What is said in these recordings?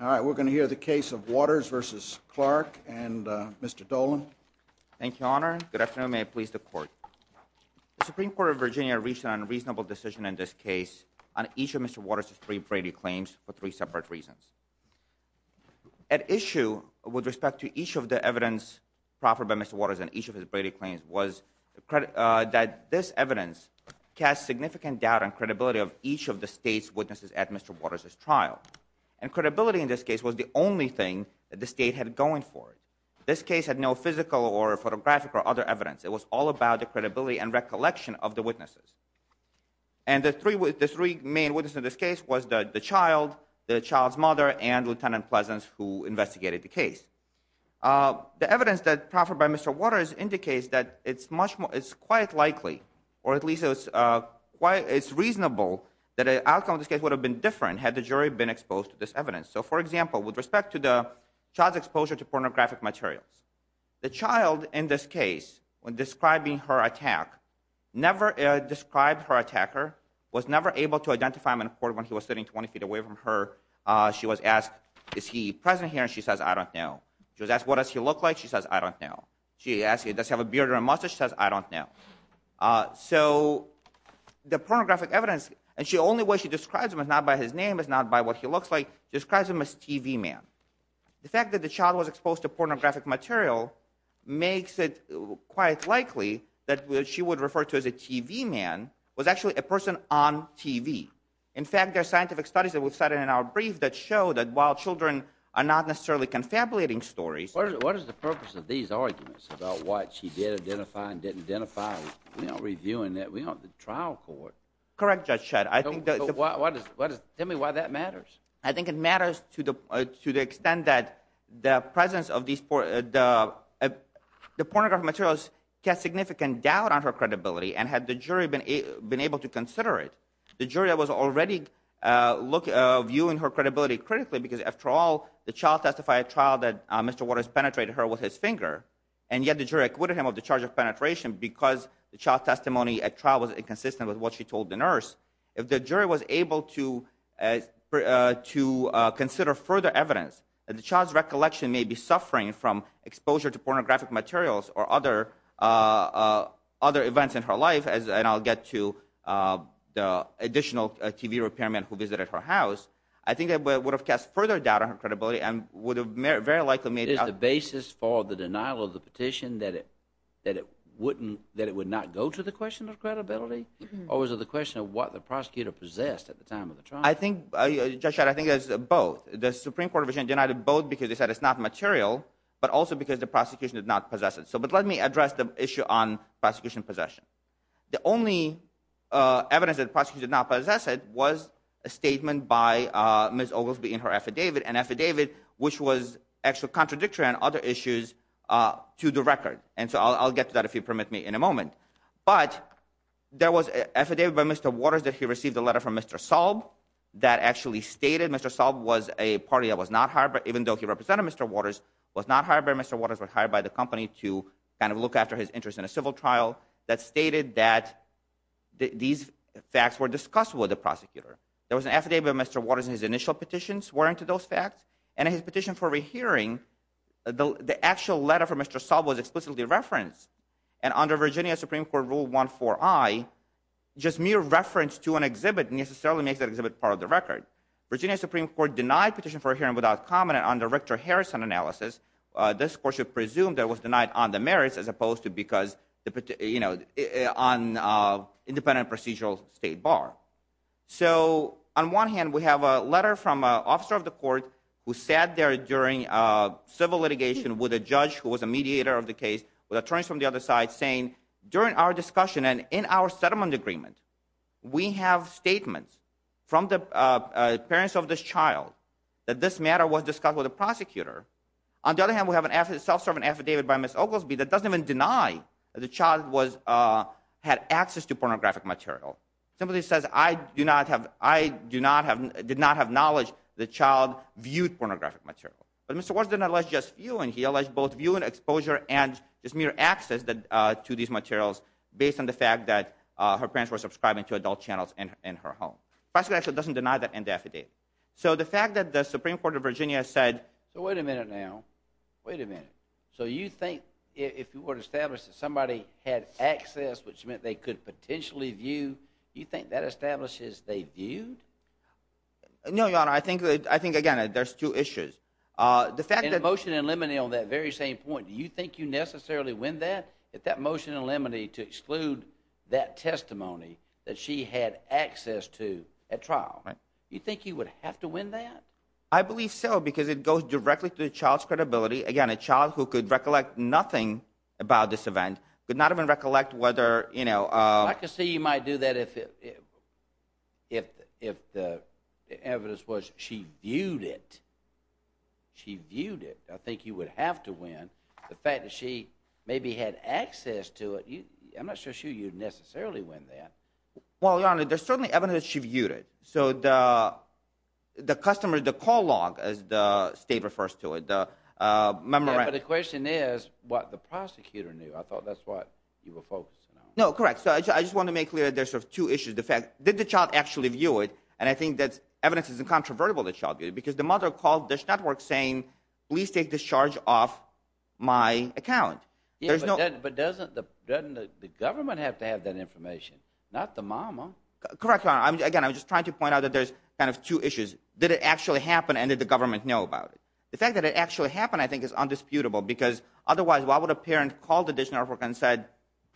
All right, we're going to hear the case of Waters v. Clarke and Mr. Dolan. Thank you, Your Honor. Good afternoon. May it please the Court. The Supreme Court of Virginia reached an unreasonable decision in this case on each of Mr. Waters' three Brady claims for three separate reasons. At issue with respect to each of the evidence proffered by Mr. Waters on each of his Brady claims was that this evidence casts significant doubt on credibility of each of the state's witnesses at Mr. Waters' trial. And credibility in this case was the only thing that the state had going for it. This case had no physical or photographic or other evidence. It was all about the credibility and recollection of the witnesses. And the three main witnesses in this case was the child, the child's mother, and Lieutenant Pleasance, who investigated the case. The evidence that was proffered by Mr. Waters indicates that it's quite likely, or at least it's reasonable, that the outcome of this case would have been different had the jury been exposed to this evidence. So, for example, with respect to the child's exposure to pornographic materials, the child in this case, when describing her attack, never described her attacker, was never able to identify him when he was sitting 20 feet away from her. She was asked, is he present here? And she says, I don't know. She was asked, what does he look like? She says, I don't know. She asks, does he have a beard or a mustache? She says, I don't know. So, the pornographic evidence, and the only way she describes him is not by his name, it's not by what he looks like, she describes him as TV man. The fact that the child was exposed to pornographic material makes it quite likely that what she would refer to as a TV man was actually a person on TV. In fact, there are scientific studies that we've cited in our brief that show that while children are not necessarily confabulating stories. What is the purpose of these arguments about what she did identify and didn't identify? We aren't reviewing that. We aren't the trial court. Correct, Judge Shedd. Tell me why that matters. I think it matters to the extent that the presence of these, the pornographic materials cast significant doubt on her credibility and had the jury been able to consider it, the jury was already viewing her credibility critically because after all, the child testified at trial that Mr. Waters penetrated her with his finger, and yet the jury acquitted him of the charge of penetration because the child's testimony at trial was inconsistent with what she told the nurse. If the jury was able to consider further evidence that the child's recollection may be suffering from exposure to pornographic materials or other events in her life, and I'll get to the additional TV repairman who visited her house, I think that would have cast further doubt on her credibility and would have very likely made— Is the basis for the denial of the petition that it wouldn't, that it would not go to the question of credibility? Or was it the question of what the prosecutor possessed at the time of the trial? I think, Judge Shedd, I think it's both. The Supreme Court version denied it both because they said it's not material, but also because the prosecution did not possess it. But let me address the issue on prosecution possession. The only evidence that the prosecutor did not possess it was a statement by Ms. Oglesby in her affidavit, an affidavit which was actually contradictory on other issues to the record. And so I'll get to that, if you permit me, in a moment. But there was an affidavit by Mr. Waters that he received a letter from Mr. Saub that actually stated Mr. Saub was a party that was not hired by— even though he represented Mr. Waters, was not hired by Mr. Waters, was hired by the company to kind of look after his interest in a civil trial, that stated that these facts were discussed with the prosecutor. There was an affidavit of Mr. Waters in his initial petition swearing to those facts, and in his petition for a re-hearing, the actual letter from Mr. Saub was explicitly referenced. And under Virginia Supreme Court Rule 1-4-I, just mere reference to an exhibit necessarily makes that exhibit part of the record. Virginia Supreme Court denied petition for a hearing without comment under Richter-Harrison analysis. This court should presume that it was denied on the merits as opposed to because, you know, on independent procedural state bar. So on one hand, we have a letter from an officer of the court who sat there during civil litigation with a judge who was a mediator of the case with attorneys from the other side saying, during our discussion and in our settlement agreement, we have statements from the parents of this child that this matter was discussed with the prosecutor. On the other hand, we have a self-servant affidavit by Ms. Oglesby that doesn't even deny that the child had access to pornographic material. It simply says, I did not have knowledge the child viewed pornographic material. But Mr. Waters did not allege just viewing. He alleged both viewing, exposure, and just mere access to these materials based on the fact that her parents were subscribing to adult channels in her home. The prosecutor actually doesn't deny that in the affidavit. So the fact that the Supreme Court of Virginia said— So wait a minute now. Wait a minute. So you think if you were to establish that somebody had access, which meant they could potentially view, you think that establishes they viewed? No, Your Honor. I think, again, there's two issues. In the motion in limine on that very same point, do you think you necessarily win that? If that motion in limine to exclude that testimony that she had access to at trial, do you think you would have to win that? I believe so because it goes directly to the child's credibility. Again, a child who could recollect nothing about this event, could not even recollect whether, you know— I can see you might do that if the evidence was she viewed it. She viewed it. I think you would have to win. The fact that she maybe had access to it, I'm not sure you'd necessarily win that. Well, Your Honor, there's certainly evidence that she viewed it. So the customer, the call log, as the state refers to it, the memorandum— Yeah, but the question is what the prosecutor knew. I thought that's what you were focusing on. No, correct. So I just want to make clear there's sort of two issues. The fact—did the child actually view it? And I think that evidence is incontrovertible that the child viewed it because the mother called Dish Network saying, please take this charge off my account. Yeah, but doesn't the government have to have that information, not the mama? Correct, Your Honor. Again, I'm just trying to point out that there's kind of two issues. Did it actually happen and did the government know about it? The fact that it actually happened, I think, is undisputable because otherwise why would a parent call the Dish Network and said,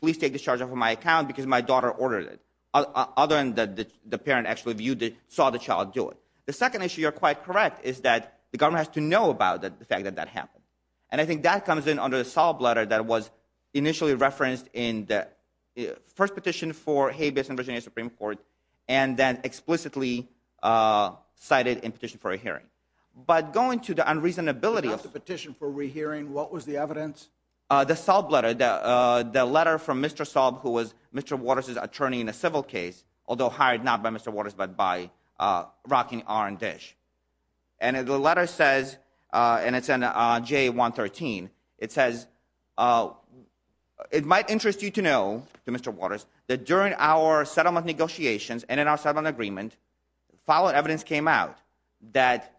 please take this charge off of my account because my daughter ordered it, other than that the parent actually viewed it, saw the child do it. The second issue, you're quite correct, is that the government has to know about the fact that that happened. And I think that comes in under the solid letter that was initially referenced in the first petition for Habeas and Virginia Supreme Court and then explicitly cited in petition for a hearing. But going to the unreasonability of— It's not the petition for a rehearing. What was the evidence? The SOLB letter, the letter from Mr. SOLB, who was Mr. Waters' attorney in a civil case, although hired not by Mr. Waters but by Rocking Iron Dish. And the letter says, and it's in JA-113, it says, it might interest you to know, to Mr. Waters, that during our settlement negotiations and in our settlement agreement, following evidence came out that—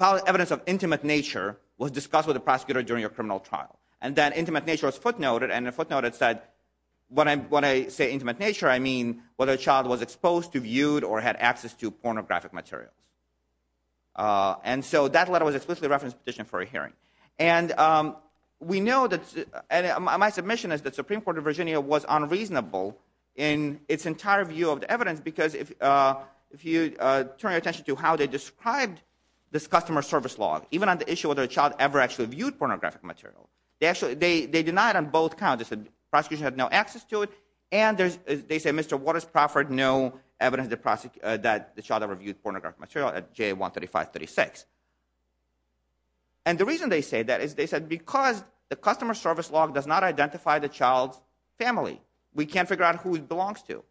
evidence of intimate nature was discussed with the prosecutor during a criminal trial. And that intimate nature was footnoted and the footnote said, when I say intimate nature, I mean whether the child was exposed, reviewed, or had access to pornographic materials. And so that letter was explicitly referenced in the petition for a hearing. And we know that—and my submission is that Supreme Court of Virginia was unreasonable in its entire view of the evidence because if you turn your attention to how they described this customer service law, even on the issue of whether a child ever actually viewed pornographic material, they actually—they denied on both counts. They said the prosecution had no access to it and they said Mr. Waters proffered no evidence that the child ever viewed pornographic material at JA-13536. And the reason they say that is they said because the customer service law does not identify the child's family. We can't figure out who it belongs to.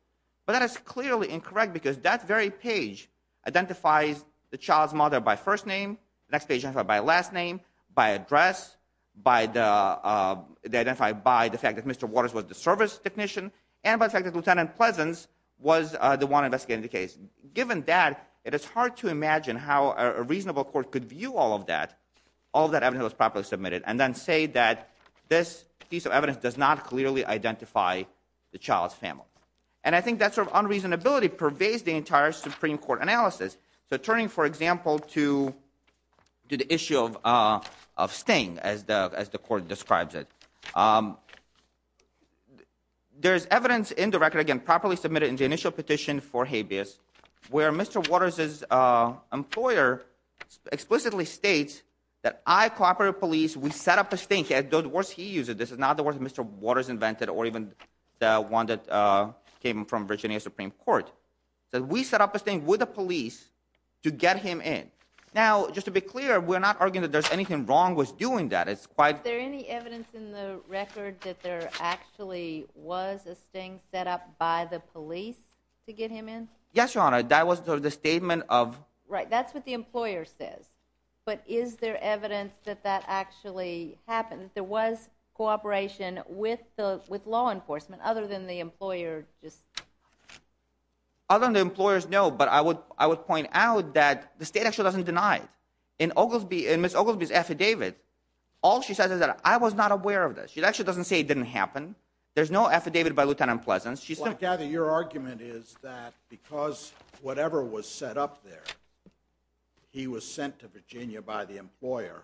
But that is clearly incorrect because that very page identifies the child's mother by first name, the next page identifies by last name, by address, by the—identified by the fact that Mr. Waters was the service technician, and by the fact that Lieutenant Pleasance was the one investigating the case. Given that, it is hard to imagine how a reasonable court could view all of that, all of that evidence that was properly submitted, and then say that this piece of evidence does not clearly identify the child's family. And I think that sort of unreasonability pervades the entire Supreme Court analysis. So turning, for example, to the issue of sting as the court describes it. There's evidence in the record, again, properly submitted in the initial petition for habeas, where Mr. Waters' employer explicitly states that I cooperated with police, we set up a sting. The words he used, this is not the words Mr. Waters invented or even the one that came from Virginia Supreme Court. That we set up a sting with the police to get him in. Now, just to be clear, we're not arguing that there's anything wrong with doing that. Is there any evidence in the record that there actually was a sting set up by the police to get him in? Yes, Your Honor, that was the statement of... Right, that's what the employer says. But is there evidence that that actually happened, that there was cooperation with law enforcement, other than the employer just... Other than the employers, no, but I would point out that the state actually doesn't deny it. In Ms. Oglesby's affidavit, all she says is that I was not aware of this. She actually doesn't say it didn't happen. There's no affidavit by Lieutenant Pleasance. Well, I gather your argument is that because whatever was set up there, he was sent to Virginia by the employer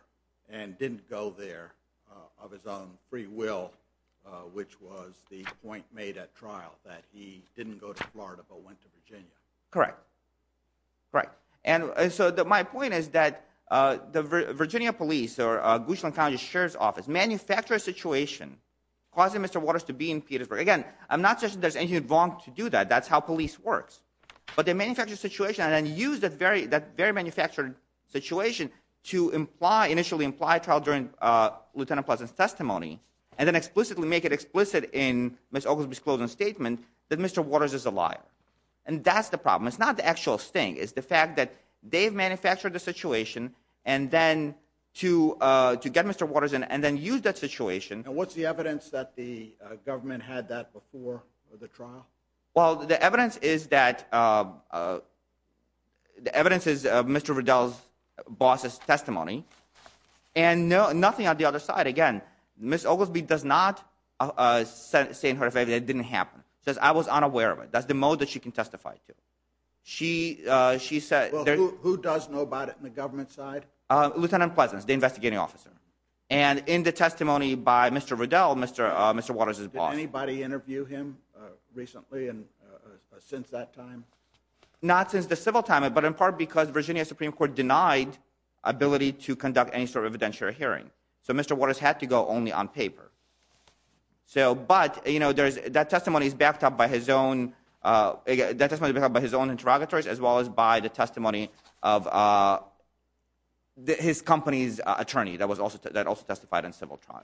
and didn't go there of his own free will, which was the point made at trial, that he didn't go to Florida but went to Virginia. Correct, correct. And so my point is that the Virginia police, or Gushland County Sheriff's Office, manufactured a situation causing Mr. Waters to be in Petersburg. Again, I'm not suggesting there's anything wrong to do that. That's how police works. But they manufactured a situation and then used that very manufactured situation to initially imply a trial during Lieutenant Pleasance's testimony and then explicitly make it explicit in Ms. Oglesby's closing statement that Mr. Waters is a liar. And that's the problem. It's not the actual sting. It's the fact that they've manufactured the situation and then to get Mr. Waters in and then use that situation. And what's the evidence that the government had that before the trial? Well, the evidence is that Mr. Riddell's boss's testimony. And nothing on the other side. Again, Ms. Oglesby does not say in her affidavit that it didn't happen. She says I was unaware of it. That's the mode that she can testify to. Well, who does know about it on the government side? Lieutenant Pleasance, the investigating officer. And in the testimony by Mr. Riddell, Mr. Waters' boss. Did anybody interview him recently and since that time? Not since the civil time, but in part because Virginia Supreme Court denied ability to conduct any sort of evidentiary hearing. So Mr. Waters had to go only on paper. But that testimony is backed up by his own interrogatories as well as by the testimony of his company's attorney that also testified in civil trial.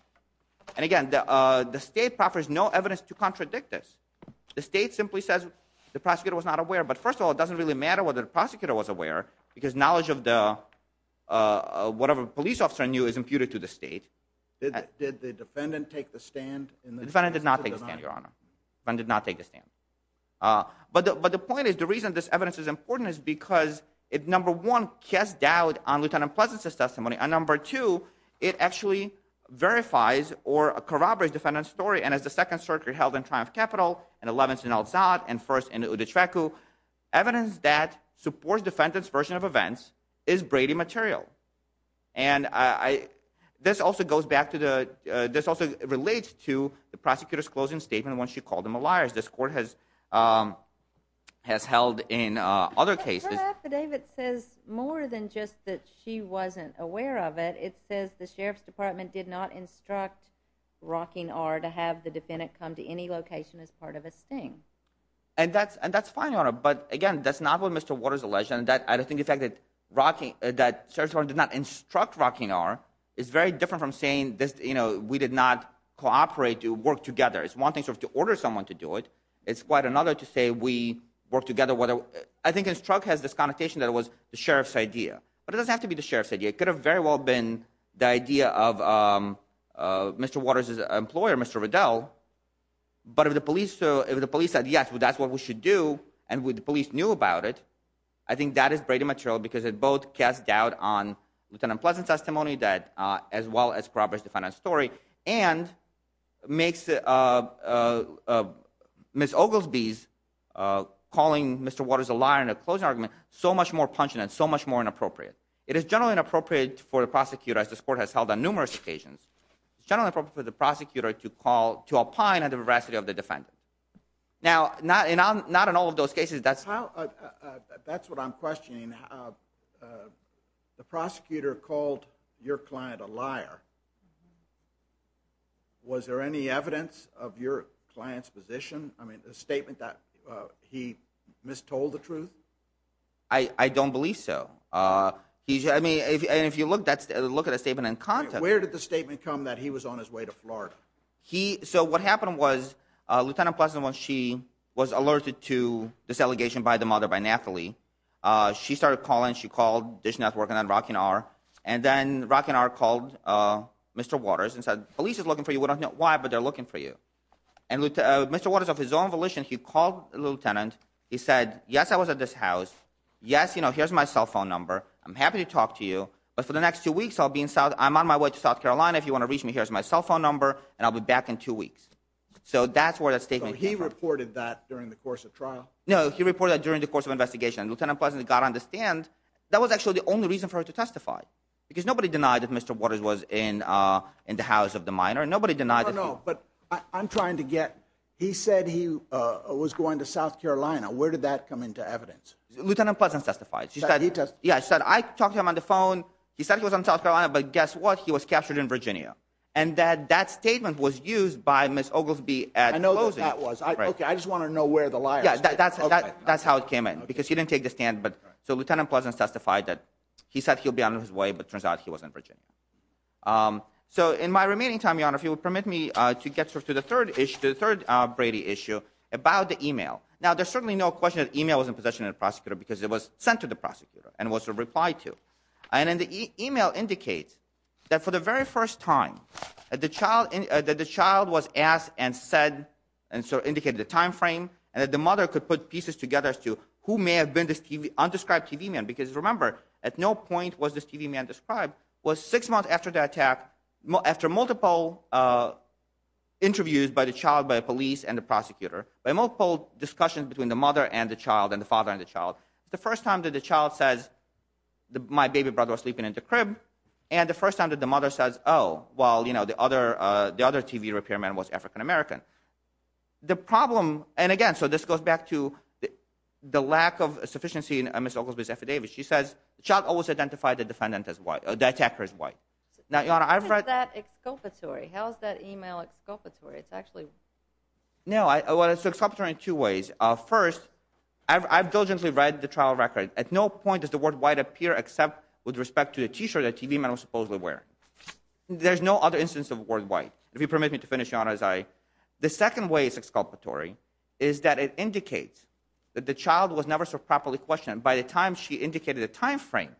And again, the state offers no evidence to contradict this. The state simply says the prosecutor was not aware. But first of all, it doesn't really matter whether the prosecutor was aware because knowledge of whatever the police officer knew is imputed to the state. Did the defendant take the stand? The defendant did not take the stand, Your Honor. The defendant did not take the stand. But the point is, the reason this evidence is important is because it, number one, casts doubt on Lieutenant Pleasance's testimony. And number two, it actually verifies or corroborates defendant's story. And as the Second Circuit held in Triumph Capital and 11th in El Zad and 1st in Uditrecu, evidence that supports defendant's version of events is Brady material. And this also relates to the prosecutor's closing statement when she called him a liar. This court has held in other cases. The affidavit says more than just that she wasn't aware of it. It says the Sheriff's Department did not instruct Rocking R to have the defendant come to any location as part of a sting. And that's fine, Your Honor. But again, that's not what Mr. Waters alleged. And I think the fact that Sheriff's Department did not instruct Rocking R is very different from saying we did not cooperate to work together. It's one thing to order someone to do it. It's quite another to say we worked together. I think instruct has this connotation that it was the Sheriff's idea. But it doesn't have to be the Sheriff's idea. It could have very well been the idea of Mr. Waters' employer, Mr. Riddell. But if the police said, yes, that's what we should do, and the police knew about it, I think that is brainy material because it both casts doubt on Lieutenant Pleasant's testimony as well as corroborates the defendant's story, and makes Ms. Oglesby's calling Mr. Waters a liar in a closing argument so much more pungent and so much more inappropriate. It is generally inappropriate for the prosecutor, as this court has held on numerous occasions, it's generally appropriate for the prosecutor to call, to opine on the veracity of the defendant. Now, not in all of those cases. That's what I'm questioning. The prosecutor called your client a liar. Was there any evidence of your client's position? I mean, a statement that he mistold the truth? I don't believe so. I mean, if you look at a statement in context. So what happened was, Lieutenant Pleasant, when she was alerted to this allegation by the mother, by Nathalie, she started calling. She called Dish Network and then Rocking R. And then Rocking R called Mr. Waters and said, police is looking for you. We don't know why, but they're looking for you. And Mr. Waters, of his own volition, he called the lieutenant. He said, yes, I was at this house. Yes, you know, here's my cell phone number. I'm happy to talk to you, but for the next two weeks, I'm on my way to South Carolina. If you want to reach me, here's my cell phone number, and I'll be back in two weeks. So that's where that statement came from. So he reported that during the course of trial? No, he reported that during the course of investigation. Lieutenant Pleasant, you've got to understand, that was actually the only reason for her to testify, because nobody denied that Mr. Waters was in the house of the minor. Nobody denied that he was. I don't know, but I'm trying to get. He said he was going to South Carolina. Where did that come into evidence? Lieutenant Pleasant testified. He testified? Yeah, I talked to him on the phone. He said he was in South Carolina, but guess what? He was captured in Virginia, and that statement was used by Ms. Oglesby at closing. I know who that was. Okay, I just want to know where the liar is. Yeah, that's how it came in, because he didn't take the stand. So Lieutenant Pleasant testified that he said he'll be on his way, but it turns out he was in Virginia. So in my remaining time, Your Honor, if you would permit me to get to the third Brady issue about the email. Now, there's certainly no question that the email was in possession of the prosecutor, because it was sent to the prosecutor and was replied to. And the email indicates that for the very first time that the child was asked and said, and so indicated the time frame, and that the mother could put pieces together as to who may have been this undescribed TV man. Because remember, at no point was this TV man described. It was six months after the attack, after multiple interviews by the child, by the police, and the prosecutor, by multiple discussions between the mother and the child and the father and the child. The first time that the child says, my baby brother was sleeping in the crib, and the first time that the mother says, oh, well, you know, the other TV repairman was African-American. The problem, and again, so this goes back to the lack of sufficiency in Ms. Oglesby's affidavit. She says, the child always identified the defendant as white, the attacker as white. Now, Your Honor, I've read... How is that exculpatory? How is that email exculpatory? It's actually... No, well, it's exculpatory in two ways. First, I've diligently read the trial record. At no point does the word white appear except with respect to the T-shirt that the TV man was supposedly wearing. There's no other instance of the word white, if you permit me to finish, Your Honor, as I... The second way it's exculpatory is that it indicates that the child was never so properly questioned. By the time she indicated the time frame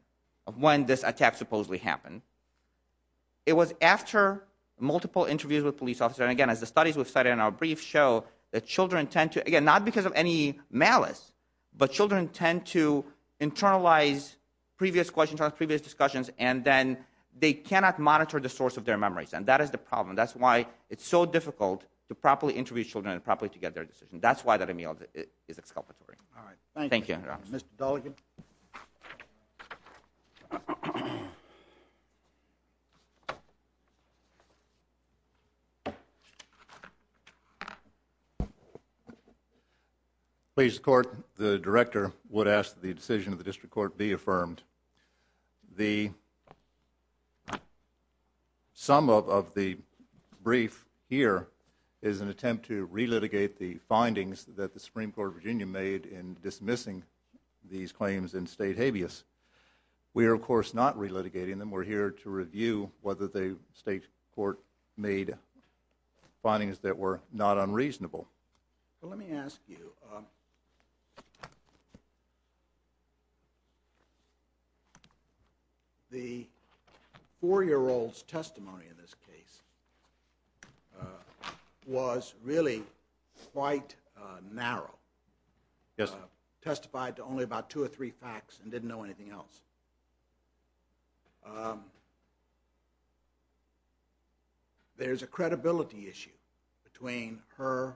of when this attack supposedly happened, it was after multiple interviews with police officers. And again, as the studies we've cited in our brief show, that children tend to... Again, not because of any malice, but children tend to internalize previous questions, previous discussions, and then they cannot monitor the source of their memories. And that is the problem. That's why it's so difficult to properly interview children and properly to get their decision. That's why that email is exculpatory. All right. Thank you, Mr. Dolligan. Please, the Court. The Director would ask that the decision of the District Court be affirmed. The sum of the brief here is an attempt to relitigate the findings that the Supreme Court of Virginia made in dismissing these claims in state habeas. We are, of course, not relitigating them. We're here to review whether the State Court made findings that were not unreasonable. Let me ask you. The 4-year-old's testimony in this case was really quite narrow. Yes, sir. Testified to only about two or three facts and didn't know anything else. There's a credibility issue between her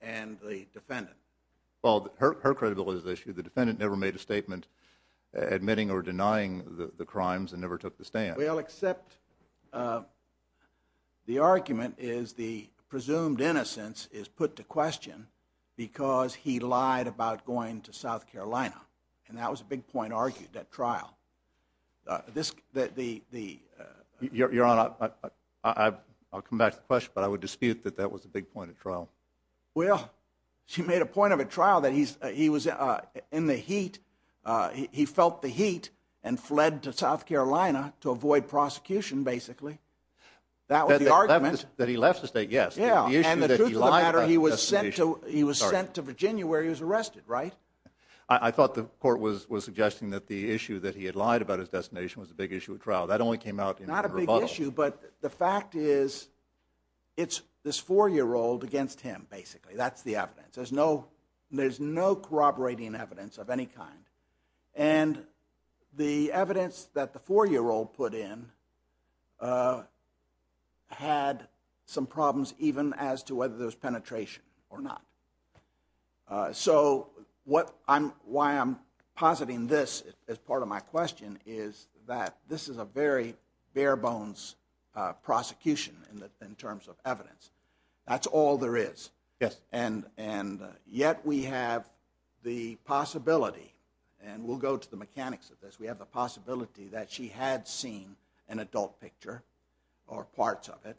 and the defendant. Well, her credibility is the issue. The defendant never made a statement admitting or denying the crimes and never took the stand. Well, except the argument is the presumed innocence is put to question because he lied about going to South Carolina, and that was a big point argued at trial. Your Honor, I'll come back to the question, but I would dispute that that was a big point at trial. Well, she made a point of a trial that he was in the heat. He felt the heat and fled to South Carolina to avoid prosecution, basically. That was the argument. That he left the state, yes. And the truth of the matter, he was sent to Virginia where he was arrested, right? I thought the court was suggesting that the issue that he had lied about his destination was a big issue at trial. That only came out in rebuttal. Not a big issue, but the fact is it's this 4-year-old against him, basically. That's the evidence. There's no corroborating evidence of any kind, and the evidence that the 4-year-old put in had some problems even as to whether there was penetration or not. So, why I'm positing this as part of my question is that this is a very bare-bones prosecution in terms of evidence. That's all there is. Yes. And yet we have the possibility, and we'll go to the mechanics of this, we have the possibility that she had seen an adult picture or parts of it,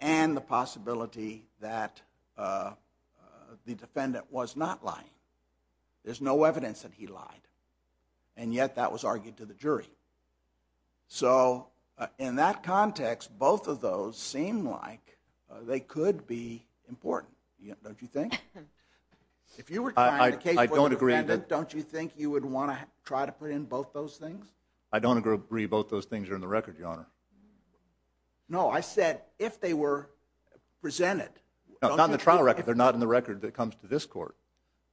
and the possibility that the defendant was not lying. There's no evidence that he lied, and yet that was argued to the jury. So, in that context, both of those seem like they could be important. Don't you think? I don't agree. Don't you think you would want to try to put in both those things? No, I said if they were presented. Not in the trial record. They're not in the record that comes to this court.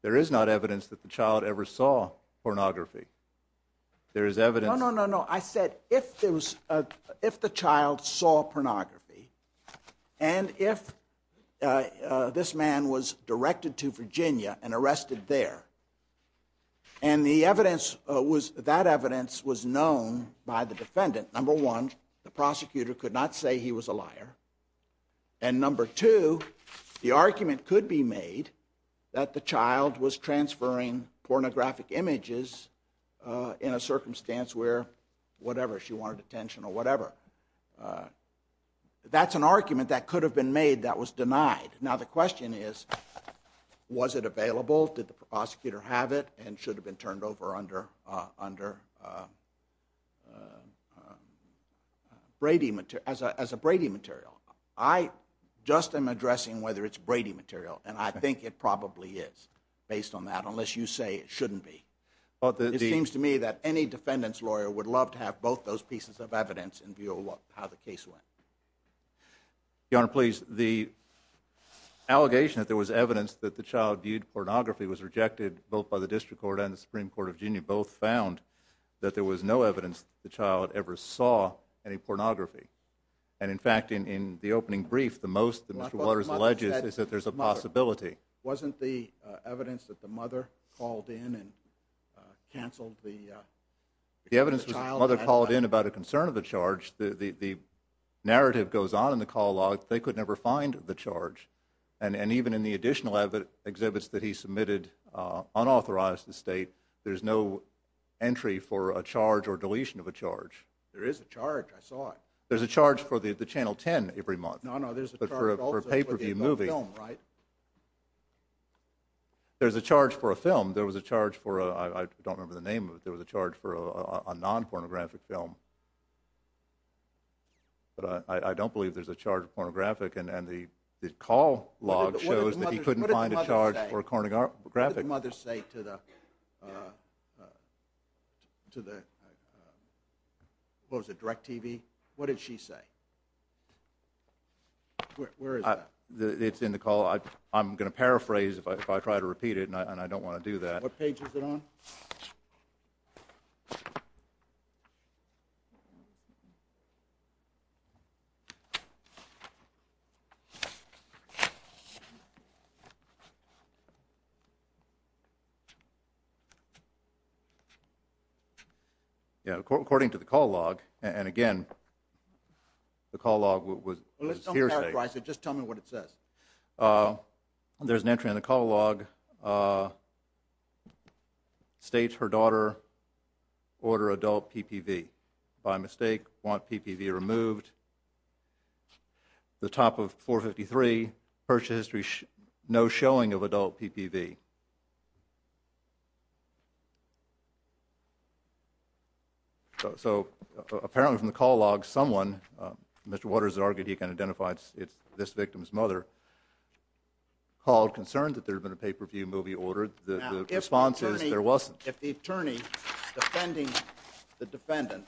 There is not evidence that the child ever saw pornography. There is evidence. No, no, no, no. I said if the child saw pornography, and if this man was directed to Virginia and arrested there, and that evidence was known by the defendant, number one, the prosecutor could not say he was a liar, and number two, the argument could be made that the child was transferring pornographic images in a circumstance where whatever, she wanted detention or whatever. That's an argument that could have been made that was denied. Now, the question is, was it available? Did the prosecutor have it and should have been turned over as a Brady material? I just am addressing whether it's Brady material, and I think it probably is based on that, unless you say it shouldn't be. It seems to me that any defendant's lawyer would love to have both those pieces of evidence in view of how the case went. Your Honor, please. The allegation that there was evidence that the child viewed pornography was rejected both by the District Court and the Supreme Court of Virginia. Both found that there was no evidence that the child ever saw any pornography. In fact, in the opening brief, the most that Mr. Waters alleges is that there's a possibility. Wasn't the evidence that the mother called in and canceled the child? The evidence was that the mother called in about a concern of the charge. The narrative goes on in the call log that they could never find the charge. And even in the additional exhibits that he submitted unauthorized to the state, there's no entry for a charge or deletion of a charge. There is a charge. I saw it. There's a charge for the Channel 10 every month. No, no, there's a charge also for the film, right? There's a charge for a film. I don't remember the name of it. There was a charge for a non-pornographic film. But I don't believe there's a charge of pornographic. And the call log shows that he couldn't find a charge for pornographic. What did the mother say to the, what was it, DirecTV? What did she say? Where is that? It's in the call. I'm going to paraphrase if I try to repeat it, and I don't want to do that. What page is it on? According to the call log, and again, the call log was hearsay. Just tell me what it says. There's an entry in the call log. States her daughter order adult PPV. By mistake, want PPV removed. The top of 453, purchase history no showing of adult PPV. So apparently from the call log, someone, Mr. Waters argued and he can identify this victim's mother, called concerned that there had been a PPV movie ordered. The response is there wasn't. If the attorney defending the defendant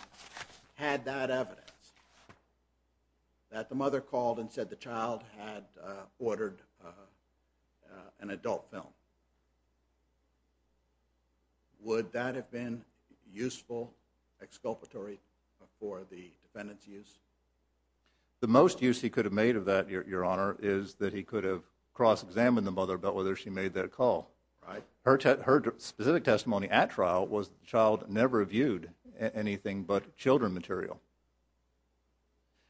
had that evidence, that the mother called and said the child had ordered an adult film, would that have been useful exculpatory for the defendant's use? The most use he could have made of that, Your Honor, is that he could have cross-examined the mother about whether she made that call. Her specific testimony at trial was the child never viewed anything but children material.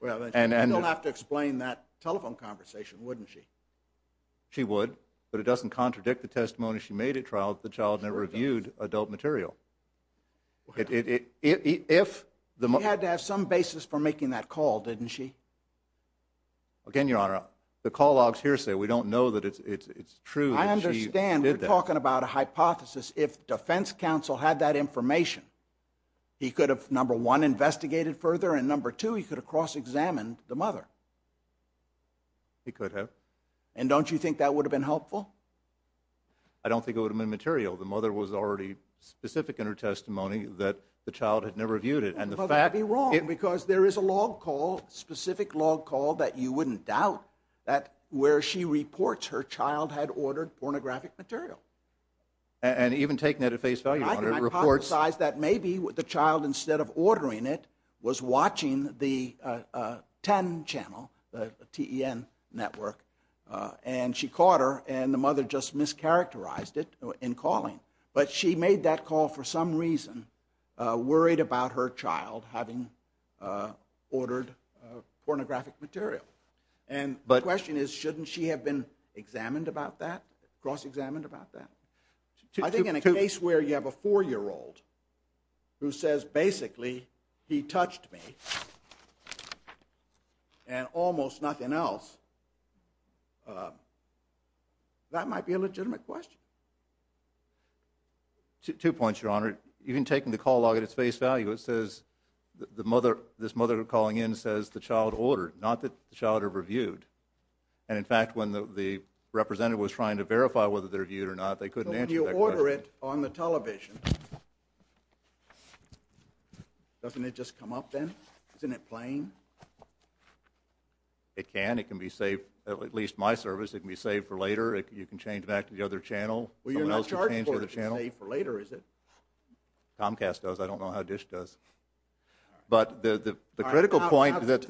You don't have to explain that telephone conversation, wouldn't you? She would, but it doesn't contradict the testimony she made at trial that the child never viewed adult material. She had to have some basis for making that call, didn't she? Again, Your Honor, the call logs here say we don't know that it's true that she did that. I understand we're talking about a hypothesis. If defense counsel had that information, he could have, number one, investigated further and, number two, he could have cross-examined the mother. He could have. And don't you think that would have been helpful? I don't think it would have been material. The mother was already specific in her testimony that the child had never viewed it. Well, that would be wrong, because there is a log call, a specific log call that you wouldn't doubt, where she reports her child had ordered pornographic material. And even taking that at face value, Your Honor, reports. I hypothesize that maybe the child, instead of ordering it, was watching the TEN channel, the T-E-N network, and she caught her, and the mother just mischaracterized it in calling. But she made that call for some reason, worried about her child having ordered pornographic material. The question is, shouldn't she have been examined about that, cross-examined about that? I think in a case where you have a four-year-old who says, basically, he touched me, and almost nothing else, that might be a legitimate question. Two points, Your Honor. Even taking the call log at its face value, it says, this mother calling in says the child ordered, not that the child reviewed. And, in fact, when the representative was trying to verify whether they were viewed or not, they couldn't answer that question. So when you order it on the television, doesn't it just come up then? Isn't it plain? It can. It can be saved. At least my service, it can be saved for later. You can change back to the other channel. Someone else can change to the other channel. Well, you're not charged for it. It can be saved for later, is it? Comcast does. I don't know how DISH does. But the critical point that the…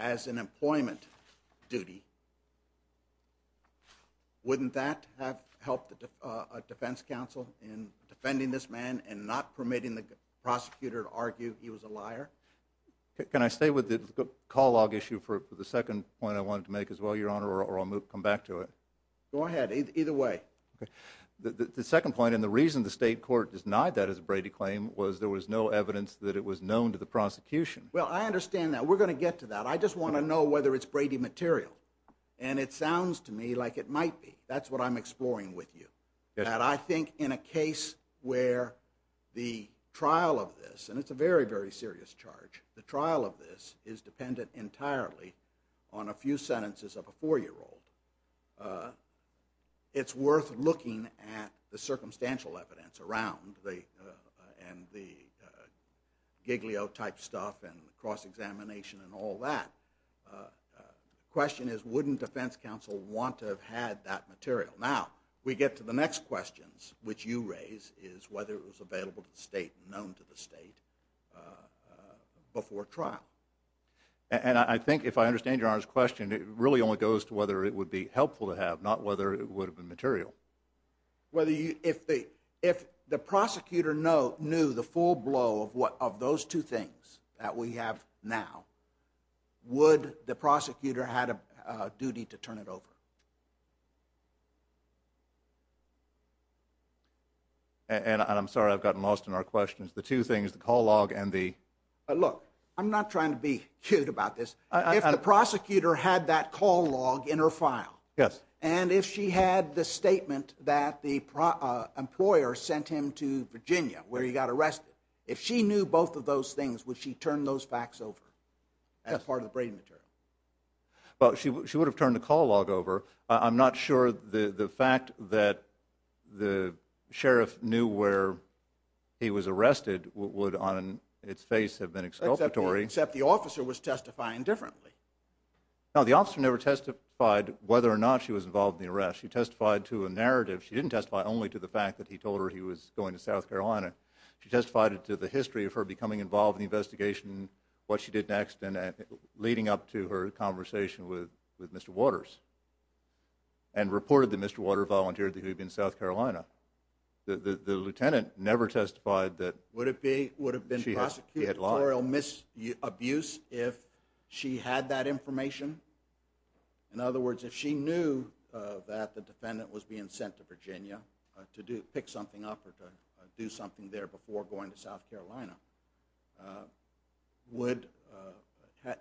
as an employment duty, wouldn't that have helped a defense counsel in defending this man and not permitting the prosecutor to argue he was a liar? Can I stay with the call log issue for the second point I wanted to make as well, Your Honor, or I'll come back to it? Go ahead. Either way. The second point, and the reason the state court denied that as a Brady claim, was there was no evidence that it was known to the prosecution. Well, I understand that. We're going to get to that. I just want to know whether it's Brady material. And it sounds to me like it might be. That's what I'm exploring with you. And I think in a case where the trial of this, and it's a very, very serious charge, the trial of this is dependent entirely on a few sentences of a 4-year-old, it's worth looking at the circumstantial evidence around and the Giglio-type stuff and cross-examination and all that. The question is, wouldn't defense counsel want to have had that material? Now, we get to the next questions, which you raise, is whether it was available to the state and known to the state before trial. And I think, if I understand Your Honor's question, it really only goes to whether it would be helpful to have, not whether it would have been material. If the prosecutor knew the full blow of those two things that we have now, would the prosecutor had a duty to turn it over? And I'm sorry, I've gotten lost in our questions. The two things, the call log and the… Look, I'm not trying to be cute about this. If the prosecutor had that call log in her file, and if she had the statement that the employer sent him to Virginia, where he got arrested, if she knew both of those things, would she turn those facts over as part of the Brady material? Well, she would have turned the call log over. I'm not sure the fact that the sheriff knew where he was arrested would on its face have been exculpatory. Yeah, except the officer was testifying differently. No, the officer never testified whether or not she was involved in the arrest. She testified to a narrative. She didn't testify only to the fact that he told her he was going to South Carolina. She testified to the history of her becoming involved in the investigation, what she did next, and leading up to her conversation with Mr. Waters, and reported that Mr. Waters volunteered to be in South Carolina. The lieutenant never testified that she had lied. Would it be abuse if she had that information? In other words, if she knew that the defendant was being sent to Virginia to pick something up or to do something there before going to South Carolina, would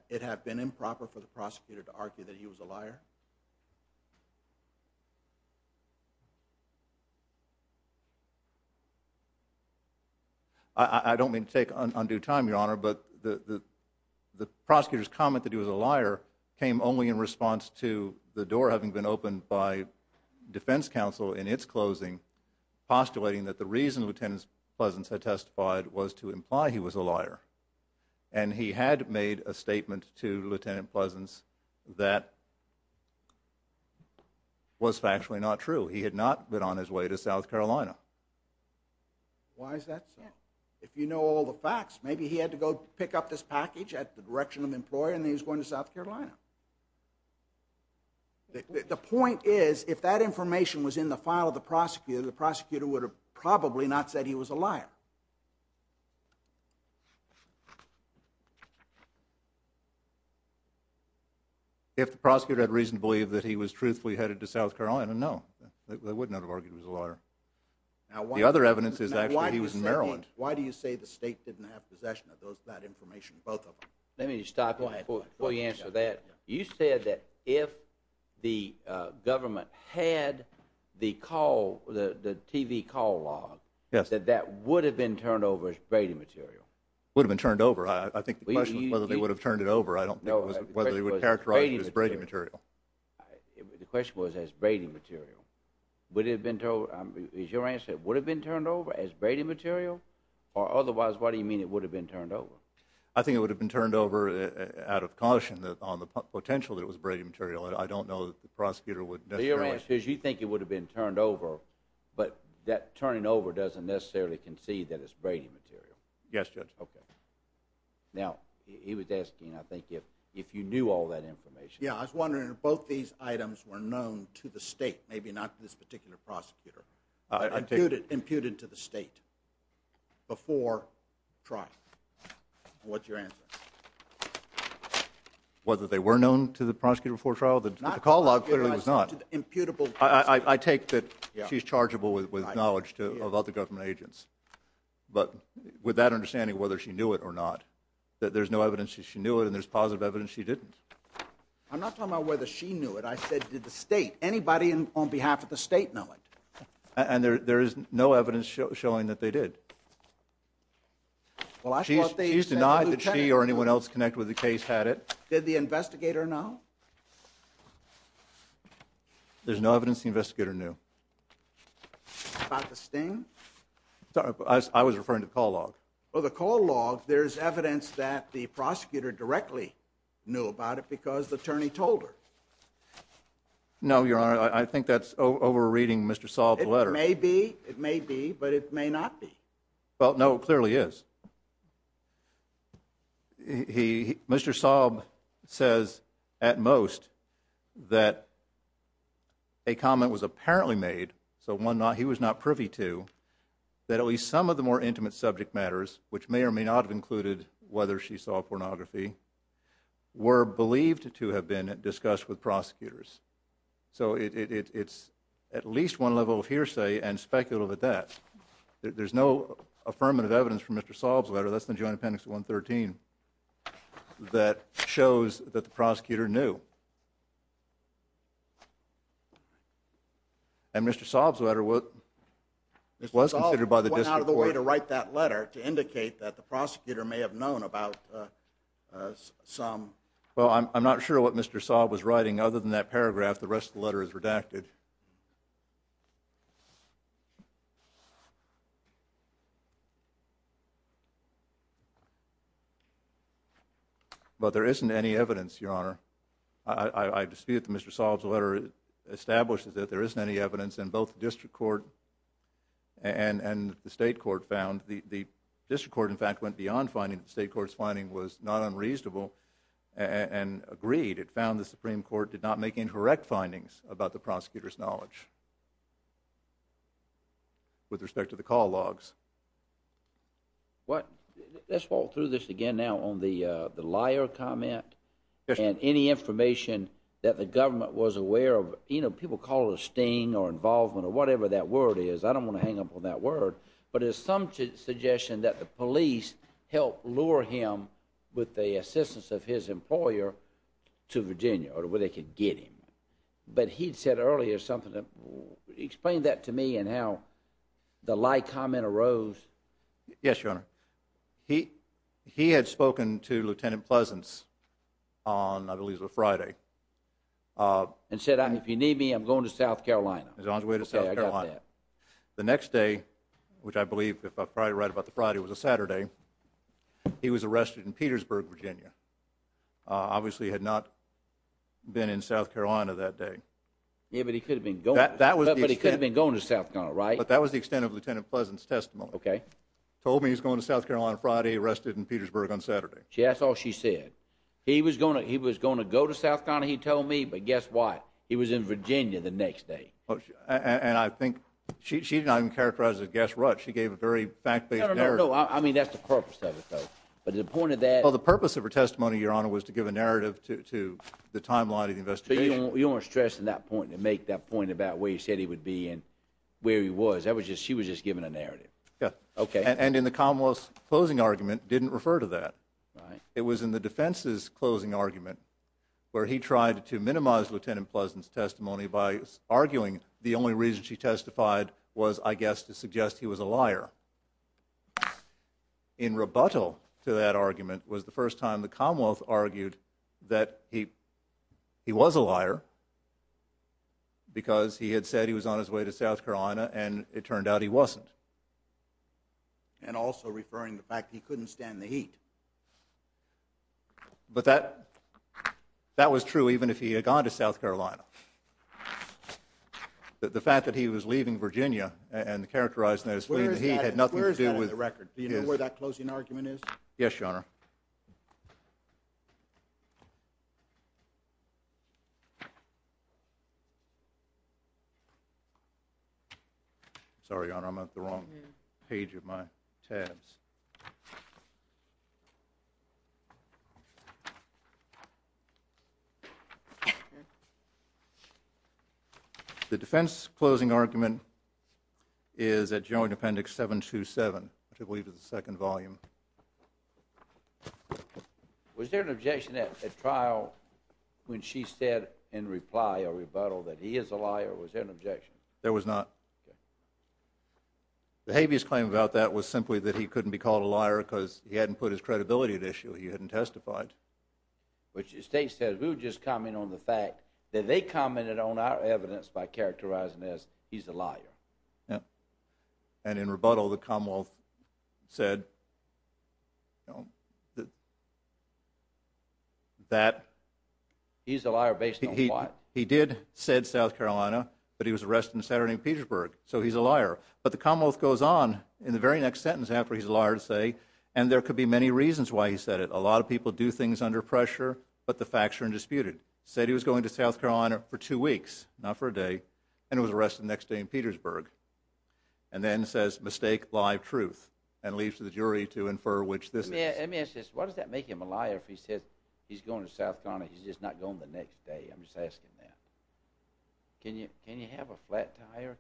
it have been improper for the prosecutor to argue that he was a liar? I don't mean to take undue time, Your Honor, but the prosecutor's comment that he was a liar came only in response to the door having been opened by defense counsel in its closing, postulating that the reason Lieutenant Pleasance had testified was to imply he was a liar. And he had made a statement to Lieutenant Pleasance that was factually not true. He had not been on his way to South Carolina. Why is that so? If you know all the facts, maybe he had to go pick up this package at the direction of an employer and then he was going to South Carolina. The point is, if that information was in the file of the prosecutor, the prosecutor would have probably not said he was a liar. If the prosecutor had reason to believe that he was truthfully headed to South Carolina, no. They would not have argued he was a liar. The other evidence is actually that he was in Maryland. Why do you say the state didn't have possession of that information, both of them? Let me stop you before you answer that. You said that if the government had the TV call log, that that would have been turned over as braiding material. Would have been turned over. I think the question was whether they would have turned it over. I don't think it was whether they would characterize it as braiding material. The question was as braiding material. Would it have been turned over? Is your answer, would it have been turned over as braiding material? Or otherwise, why do you mean it would have been turned over? I think it would have been turned over out of caution on the potential that it was braiding material. I don't know that the prosecutor would necessarily. Your answer is you think it would have been turned over, but that turning over doesn't necessarily concede that it's braiding material. Yes, Judge. Okay. Now, he was asking, I think, if you knew all that information. Yeah, I was wondering if both these items were known to the state, maybe not this particular prosecutor. Imputed to the state before trial. What's your answer? Whether they were known to the prosecutor before trial? The call log clearly was not. I take that she's chargeable with knowledge of other government agents. But with that understanding, whether she knew it or not, that there's no evidence that she knew it and there's positive evidence she didn't. I'm not talking about whether she knew it. I said did the state, anybody on behalf of the state know it? And there is no evidence showing that they did. She's denied that she or anyone else connected with the case had it. Did the investigator know? There's no evidence the investigator knew. About the sting? I was referring to the call log. Well, the call log, there's evidence that the prosecutor directly knew about it because the attorney told her. No, Your Honor, I think that's over-reading Mr. Saab's letter. It may be, it may be, but it may not be. Well, no, it clearly is. Mr. Saab says at most that a comment was apparently made, so he was not privy to, that at least some of the more intimate subject matters, which may or may not have included whether she saw pornography, were believed to have been discussed with prosecutors. So it's at least one level of hearsay and speculative at that. There's no affirmative evidence from Mr. Saab's letter, that's in the Joint Appendix 113, that shows that the prosecutor knew. And Mr. Saab's letter was considered by the district court. to indicate that the prosecutor may have known about some. Well, I'm not sure what Mr. Saab was writing. Other than that paragraph, the rest of the letter is redacted. But there isn't any evidence, Your Honor. I dispute that Mr. Saab's letter establishes that there isn't any evidence, and both the district court and the state court found. The district court, in fact, went beyond finding. The state court's finding was not unreasonable and agreed. It found the Supreme Court did not make incorrect findings about the prosecutor's knowledge with respect to the call logs. Let's walk through this again now on the liar comment and any information that the government was aware of. You know, people call it a sting or involvement or whatever that word is. I don't want to hang up on that word. But there's some suggestion that the police helped lure him with the assistance of his employer to Virginia or where they could get him. But he said earlier something that explained that to me and how the lie comment arose. Yes, Your Honor. He had spoken to Lieutenant Pleasance on, I believe it was a Friday. And said, if you need me, I'm going to South Carolina. He was on his way to South Carolina. Okay, I got that. The next day, which I believe, if I'm probably right about the Friday, it was a Saturday, he was arrested in Petersburg, Virginia. Obviously he had not been in South Carolina that day. Yeah, but he could have been going. But he could have been going to South Carolina, right? But that was the extent of Lieutenant Pleasance's testimony. Okay. Told me he was going to South Carolina Friday, arrested in Petersburg on Saturday. That's all she said. He was going to go to South Carolina, he told me. But guess what? He was in Virginia the next day. And I think she didn't even characterize it as a gas rut. She gave a very fact-based narrative. No, no, no. I mean, that's the purpose of it, though. But the point of that— Well, the purpose of her testimony, Your Honor, was to give a narrative to the timeline of the investigation. So you don't want to stress on that point and make that point about where he said he would be and where he was. She was just giving a narrative. Yeah. Okay. And in the Commonwealth's closing argument, didn't refer to that. Right. It was in the defense's closing argument where he tried to minimize Lieutenant Pleasance's testimony by arguing the only reason she testified was, I guess, to suggest he was a liar. In rebuttal to that argument was the first time the Commonwealth argued that he was a liar because he had said he was on his way to South Carolina, and it turned out he wasn't. And also referring to the fact he couldn't stand the heat. But that was true even if he had gone to South Carolina. The fact that he was leaving Virginia and the characterization that he was fleeing the heat had nothing to do with— Where is that in the record? Do you know where that closing argument is? Yes, Your Honor. Sorry, Your Honor. Sorry, Your Honor. I'm at the wrong page of my tabs. The defense's closing argument is at Joint Appendix 727, which I believe is the second volume. Was there an objection at trial when she said in reply or rebuttal that he is a liar? Was there an objection? There was not. Okay. The habeas claim about that was simply that he couldn't be called a liar because he hadn't put his credibility at issue. He hadn't testified. But your state said, we were just commenting on the fact that they commented on our evidence by characterizing as he's a liar. And in rebuttal, the Commonwealth said that— He's a liar based on what? He did said South Carolina, but he was arrested in the Saturday in Petersburg, so he's a liar. But the Commonwealth goes on in the very next sentence after he's a liar to say, and there could be many reasons why he said it. A lot of people do things under pressure, but the facts are undisputed. He said he was going to South Carolina for two weeks, not for a day, and was arrested the next day in Petersburg, and then says, mistake, lie, truth, and leaves to the jury to infer which this is. Let me ask you this. Why does that make him a liar if he says he's going to South Carolina, he's just not going the next day? I'm just asking that. Can you have a flat tire?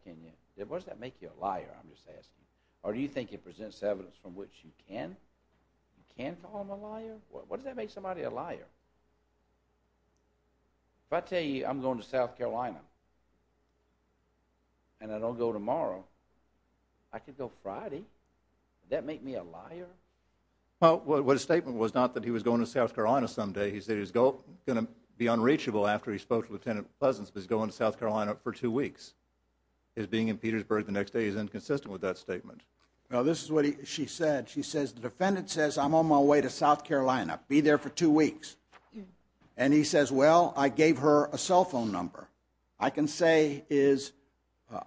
Why does that make you a liar? I'm just asking. Or do you think it presents evidence from which you can call him a liar? Why does that make somebody a liar? If I tell you I'm going to South Carolina and I don't go tomorrow, I could go Friday. Would that make me a liar? Well, what his statement was not that he was going to South Carolina someday. He said he was going to be unreachable after he spoke to Lieutenant Pleasance, but he's going to South Carolina for two weeks. His being in Petersburg the next day is inconsistent with that statement. This is what she said. She says the defendant says I'm on my way to South Carolina, be there for two weeks. And he says, well, I gave her a cell phone number. I can say is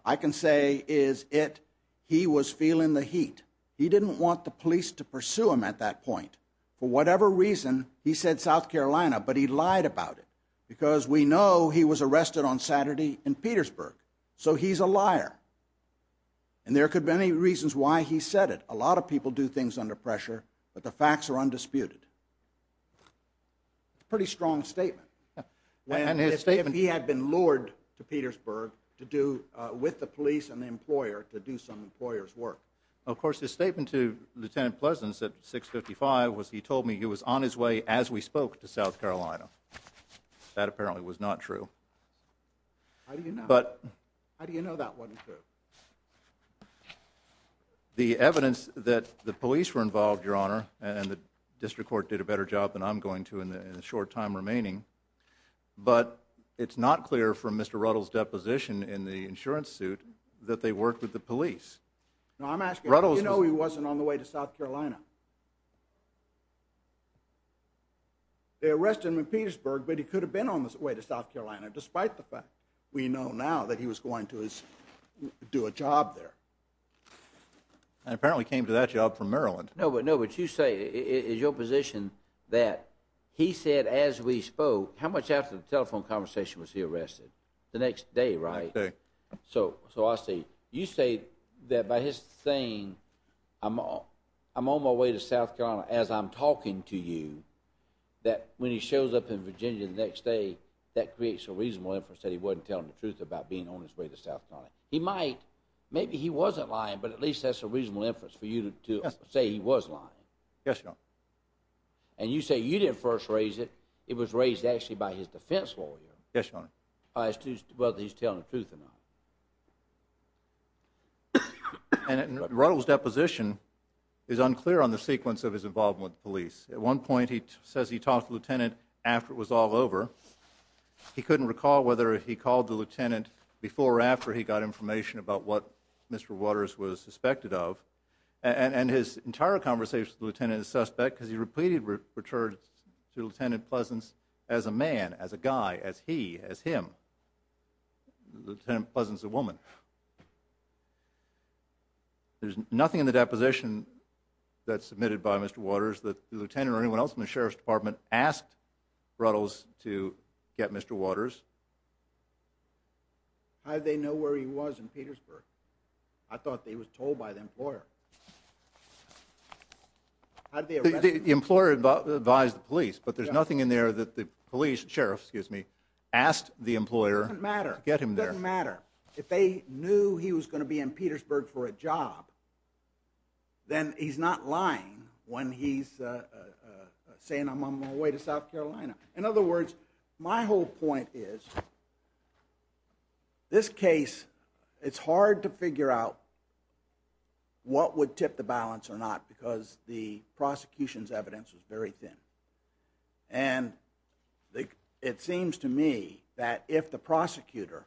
it he was feeling the heat. He didn't want the police to pursue him at that point. For whatever reason, he said South Carolina, but he lied about it because we know he was arrested on Saturday in Petersburg. So he's a liar. And there could be many reasons why he said it. A lot of people do things under pressure, but the facts are undisputed. It's a pretty strong statement. If he had been lured to Petersburg with the police and the employer to do some employer's work. Of course, his statement to Lieutenant Pleasance at 655 was he told me he was on his way as we spoke to South Carolina. That apparently was not true. How do you know? How do you know that wasn't true? The evidence that the police were involved, Your Honor, and the district court did a better job than I'm going to in the short time remaining, but it's not clear from Mr. Ruttles' deposition in the insurance suit that they worked with the police. No, I'm asking, how do you know he wasn't on the way to South Carolina? They arrested him in Petersburg, but he could have been on his way to South Carolina, despite the fact we know now that he was going to do a job there. And apparently he came to that job from Maryland. No, but you say, is your position that he said as we spoke, how much after the telephone conversation was he arrested? The next day, right? The next day. So I see. You say that by his saying, I'm on my way to South Carolina, as I'm talking to you, that when he shows up in Virginia the next day, that creates a reasonable inference that he wasn't telling the truth about being on his way to South Carolina. He might. Maybe he wasn't lying, but at least that's a reasonable inference for you to say he was lying. Yes, Your Honor. And you say you didn't first raise it. It was raised, actually, by his defense lawyer. Yes, Your Honor. By whether he's telling the truth or not. And Ruttles' deposition is unclear on the sequence of his involvement with the police. At one point he says he talked to the lieutenant after it was all over. He couldn't recall whether he called the lieutenant before or after he got information about what Mr. Waters was suspected of. And his entire conversation with the lieutenant is suspect because he repeatedly returned to Lieutenant Pleasance as a man, as a guy, as he, as him. Lieutenant Pleasance is a woman. There's nothing in the deposition that's submitted by Mr. Waters that the lieutenant or anyone else in the Sheriff's Department asked Ruttles to get Mr. Waters. How did they know where he was in Petersburg? I thought he was told by the employer. How did they arrest him? The employer advised the police, but there's nothing in there that the police, sheriff, excuse me, asked the employer to get him there. It doesn't matter. If they knew he was going to be in Petersburg for a job, then he's not lying when he's saying I'm on my way to South Carolina. In other words, my whole point is, this case, it's hard to figure out what would tip the balance or not because the prosecution's evidence is very thin. And it seems to me that if the prosecutor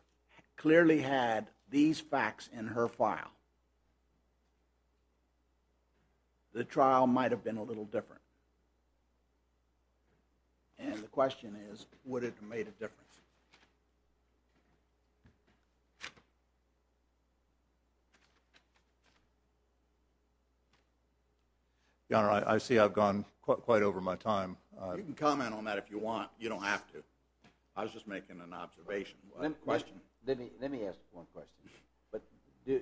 clearly had these facts in her file, the trial might have been a little different. And the question is, would it have made a difference? Your Honor, I see I've gone quite over my time. You can comment on that if you want. You don't have to. I was just making an observation. Let me ask one question.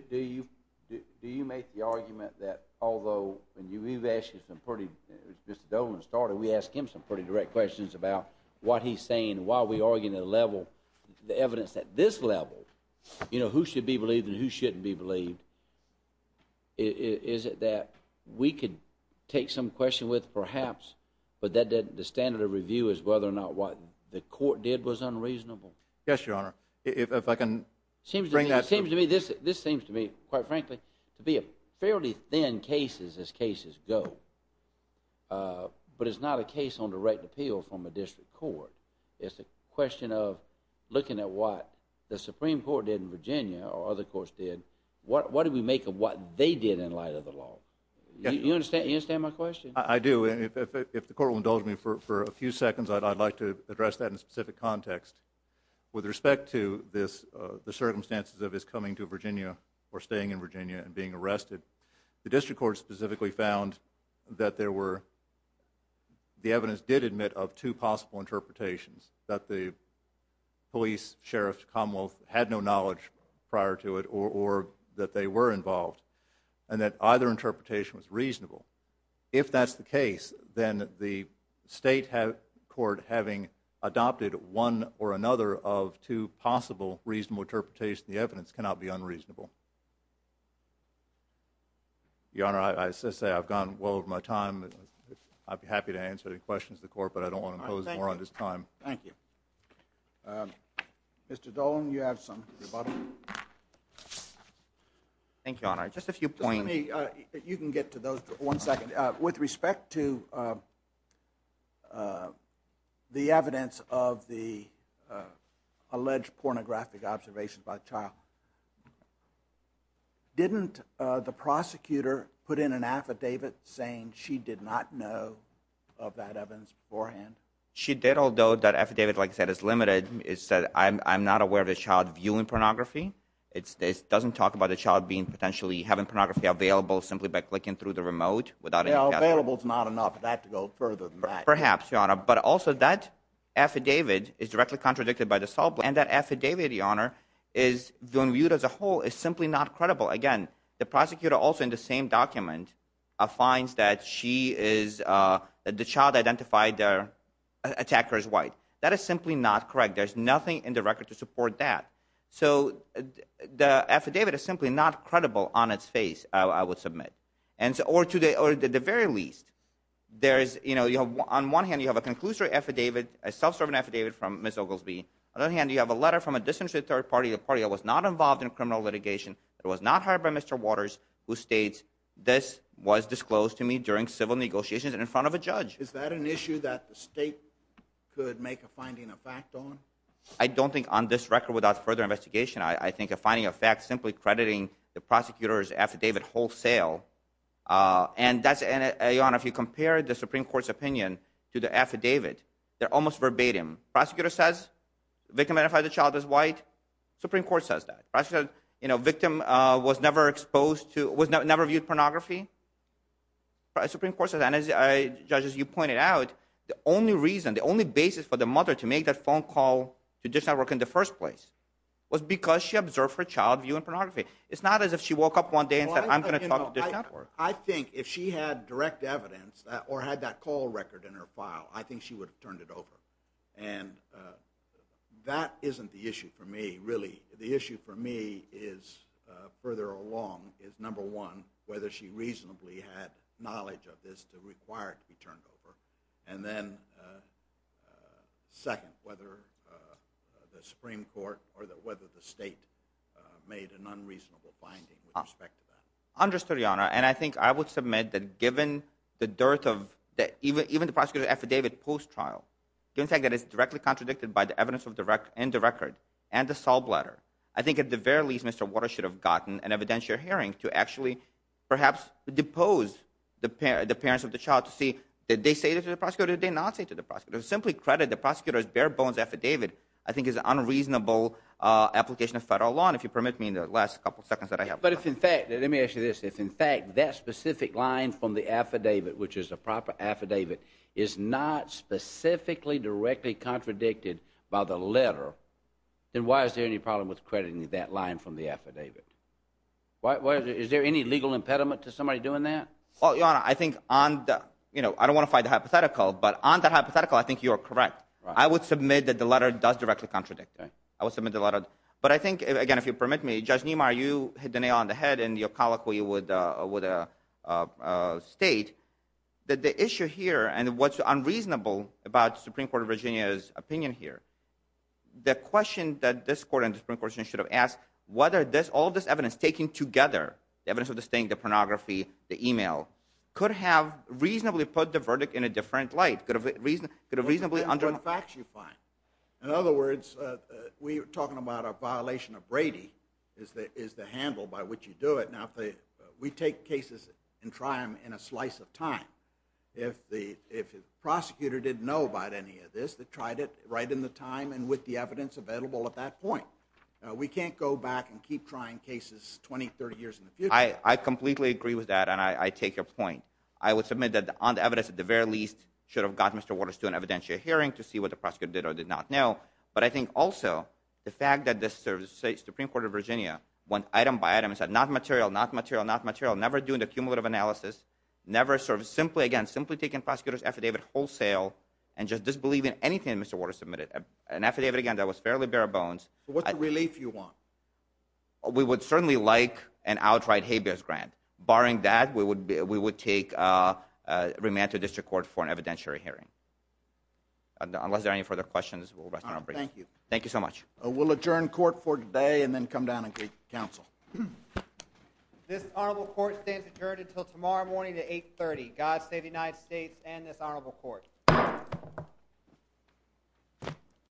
Do you make the argument that although you've asked him some pretty direct questions about what he's saying while we argue the evidence at this level, who should be believed and who shouldn't be believed, is it that we could take some question with perhaps, but the standard of review is whether or not what the court did was unreasonable? Yes, Your Honor. It seems to me, this seems to me, quite frankly, to be a fairly thin case as cases go. But it's not a case on direct appeal from a district court. It's a question of looking at what the Supreme Court did in Virginia or other courts did. What do we make of what they did in light of the law? You understand my question? I do. And if the court will indulge me for a few seconds, I'd like to address that in a specific context. With respect to this, the circumstances of his coming to Virginia or staying in Virginia and being arrested, the district court specifically found that there were, the evidence did admit of two possible interpretations, that the police, sheriff, commonwealth had no knowledge prior to it or that they were involved, and that either interpretation was reasonable. If that's the case, then the state court having adopted one or another of two possible reasonable interpretations, the evidence cannot be unreasonable. Your Honor, I should say I've gone well over my time. I'd be happy to answer any questions of the court, but I don't want to impose more on his time. Thank you. Mr. Dolan, you have some. Thank you, Your Honor. Just a few points. You can get to those in one second. With respect to the evidence of the alleged pornographic observations by the child, didn't the prosecutor put in an affidavit saying she did not know of that evidence beforehand? She did, although that affidavit, like I said, is limited. It said, I'm not aware of a child viewing pornography. It doesn't talk about a child being potentially having pornography available simply by clicking through the remote without any category. Available is not enough. I'd have to go further than that. Perhaps, Your Honor, but also that affidavit is directly contradicted by the assault, and that affidavit, Your Honor, is being viewed as a whole is simply not credible. Again, the prosecutor also in the same document finds that she is, that the child identified the attacker as white. That is simply not correct. There's nothing in the record to support that. So the affidavit is simply not credible on its face, I would submit, or to the very least. There is, you know, on one hand, you have a conclusive affidavit, a self-serving affidavit from Ms. Oglesby. On the other hand, you have a letter from a disinterested third party, a party that was not involved in criminal litigation, that was not hired by Mr. Waters, who states this was disclosed to me during civil negotiations and in front of a judge. Is that an issue that the state could make a finding of fact on? I don't think on this record, without further investigation, I think a finding of fact simply crediting the prosecutor's affidavit wholesale. And that's, Your Honor, if you compare the Supreme Court's opinion to the affidavit, they're almost verbatim. Prosecutor says the victim identified the child as white. Supreme Court says that. You know, victim was never exposed to, was never viewed pornography. Supreme Court says that. And as, Judge, as you pointed out, the only reason, the only basis for the mother to make that phone call to Dish Network in the first place was because she observed her child viewing pornography. It's not as if she woke up one day and said, I'm going to talk to Dish Network. I think if she had direct evidence or had that call record in her file, I think she would have turned it over. And that isn't the issue for me, really. The issue for me is, further along, is number one, whether she reasonably had knowledge of this to require it to be turned over. And then second, whether the Supreme Court or whether the state made an unreasonable finding with respect to that. Understood, Your Honor. And I think I would submit that given the dearth of, even the prosecutor's affidavit post-trial, given the fact that it's directly contradicted by the evidence in the record and the Saul Blatter, I think at the very least, Mr. Waters should have gotten an evidentiary hearing to actually perhaps depose the parents of the child to see did they say this to the prosecutor or did they not say it to the prosecutor. Simply credit the prosecutor's bare bones affidavit, I think is an unreasonable application of federal law. And if you permit me in the last couple seconds that I have. But if in fact, let me ask you this, if in fact that specific line from the affidavit, which is a proper affidavit, is not specifically directly contradicted by the letter, then why is there any problem with crediting that line from the affidavit? Is there any legal impediment to somebody doing that? Well, Your Honor, I think on the, you know, I don't want to fight the hypothetical, but on the hypothetical, I think you are correct. I would submit that the letter does directly contradict it. I would submit the letter. But I think, again, if you permit me, Judge Niemeyer, you hit the nail on the head in your colloquy with a state, that the issue here and what's unreasonable about the Supreme Court of Virginia's opinion here, the question that this Court and the Supreme Court should have asked, whether all this evidence taken together, the evidence of the state, the pornography, the email, could have reasonably put the verdict in a different light, could have reasonably undermined. In other words, we are talking about a violation of Brady is the handle by which you do it. Now, we take cases and try them in a slice of time. If the prosecutor didn't know about any of this, they tried it right in the time and with the evidence available at that point. We can't go back and keep trying cases 20, 30 years in the future. I completely agree with that, and I take your point. I would submit that on the evidence, at the very least, should have gotten Mr. Waters to an evidentiary hearing to see what the prosecutor did or did not know. But I think also the fact that the Supreme Court of Virginia went item by item and said, not material, not material, not material, never doing the cumulative analysis, never sort of simply, again, simply taking prosecutor's affidavit wholesale and just disbelieving anything Mr. Waters submitted, an affidavit, again, that was fairly bare bones. What relief do you want? We would certainly like an outright habeas grant. Barring that, we would take remand to district court for an evidentiary hearing. Unless there are any further questions, we'll rest on our breaks. Thank you. Thank you so much. We'll adjourn court for today and then come down and greet counsel. This honorable court stands adjourned until tomorrow morning at 830. God save the United States and this honorable court.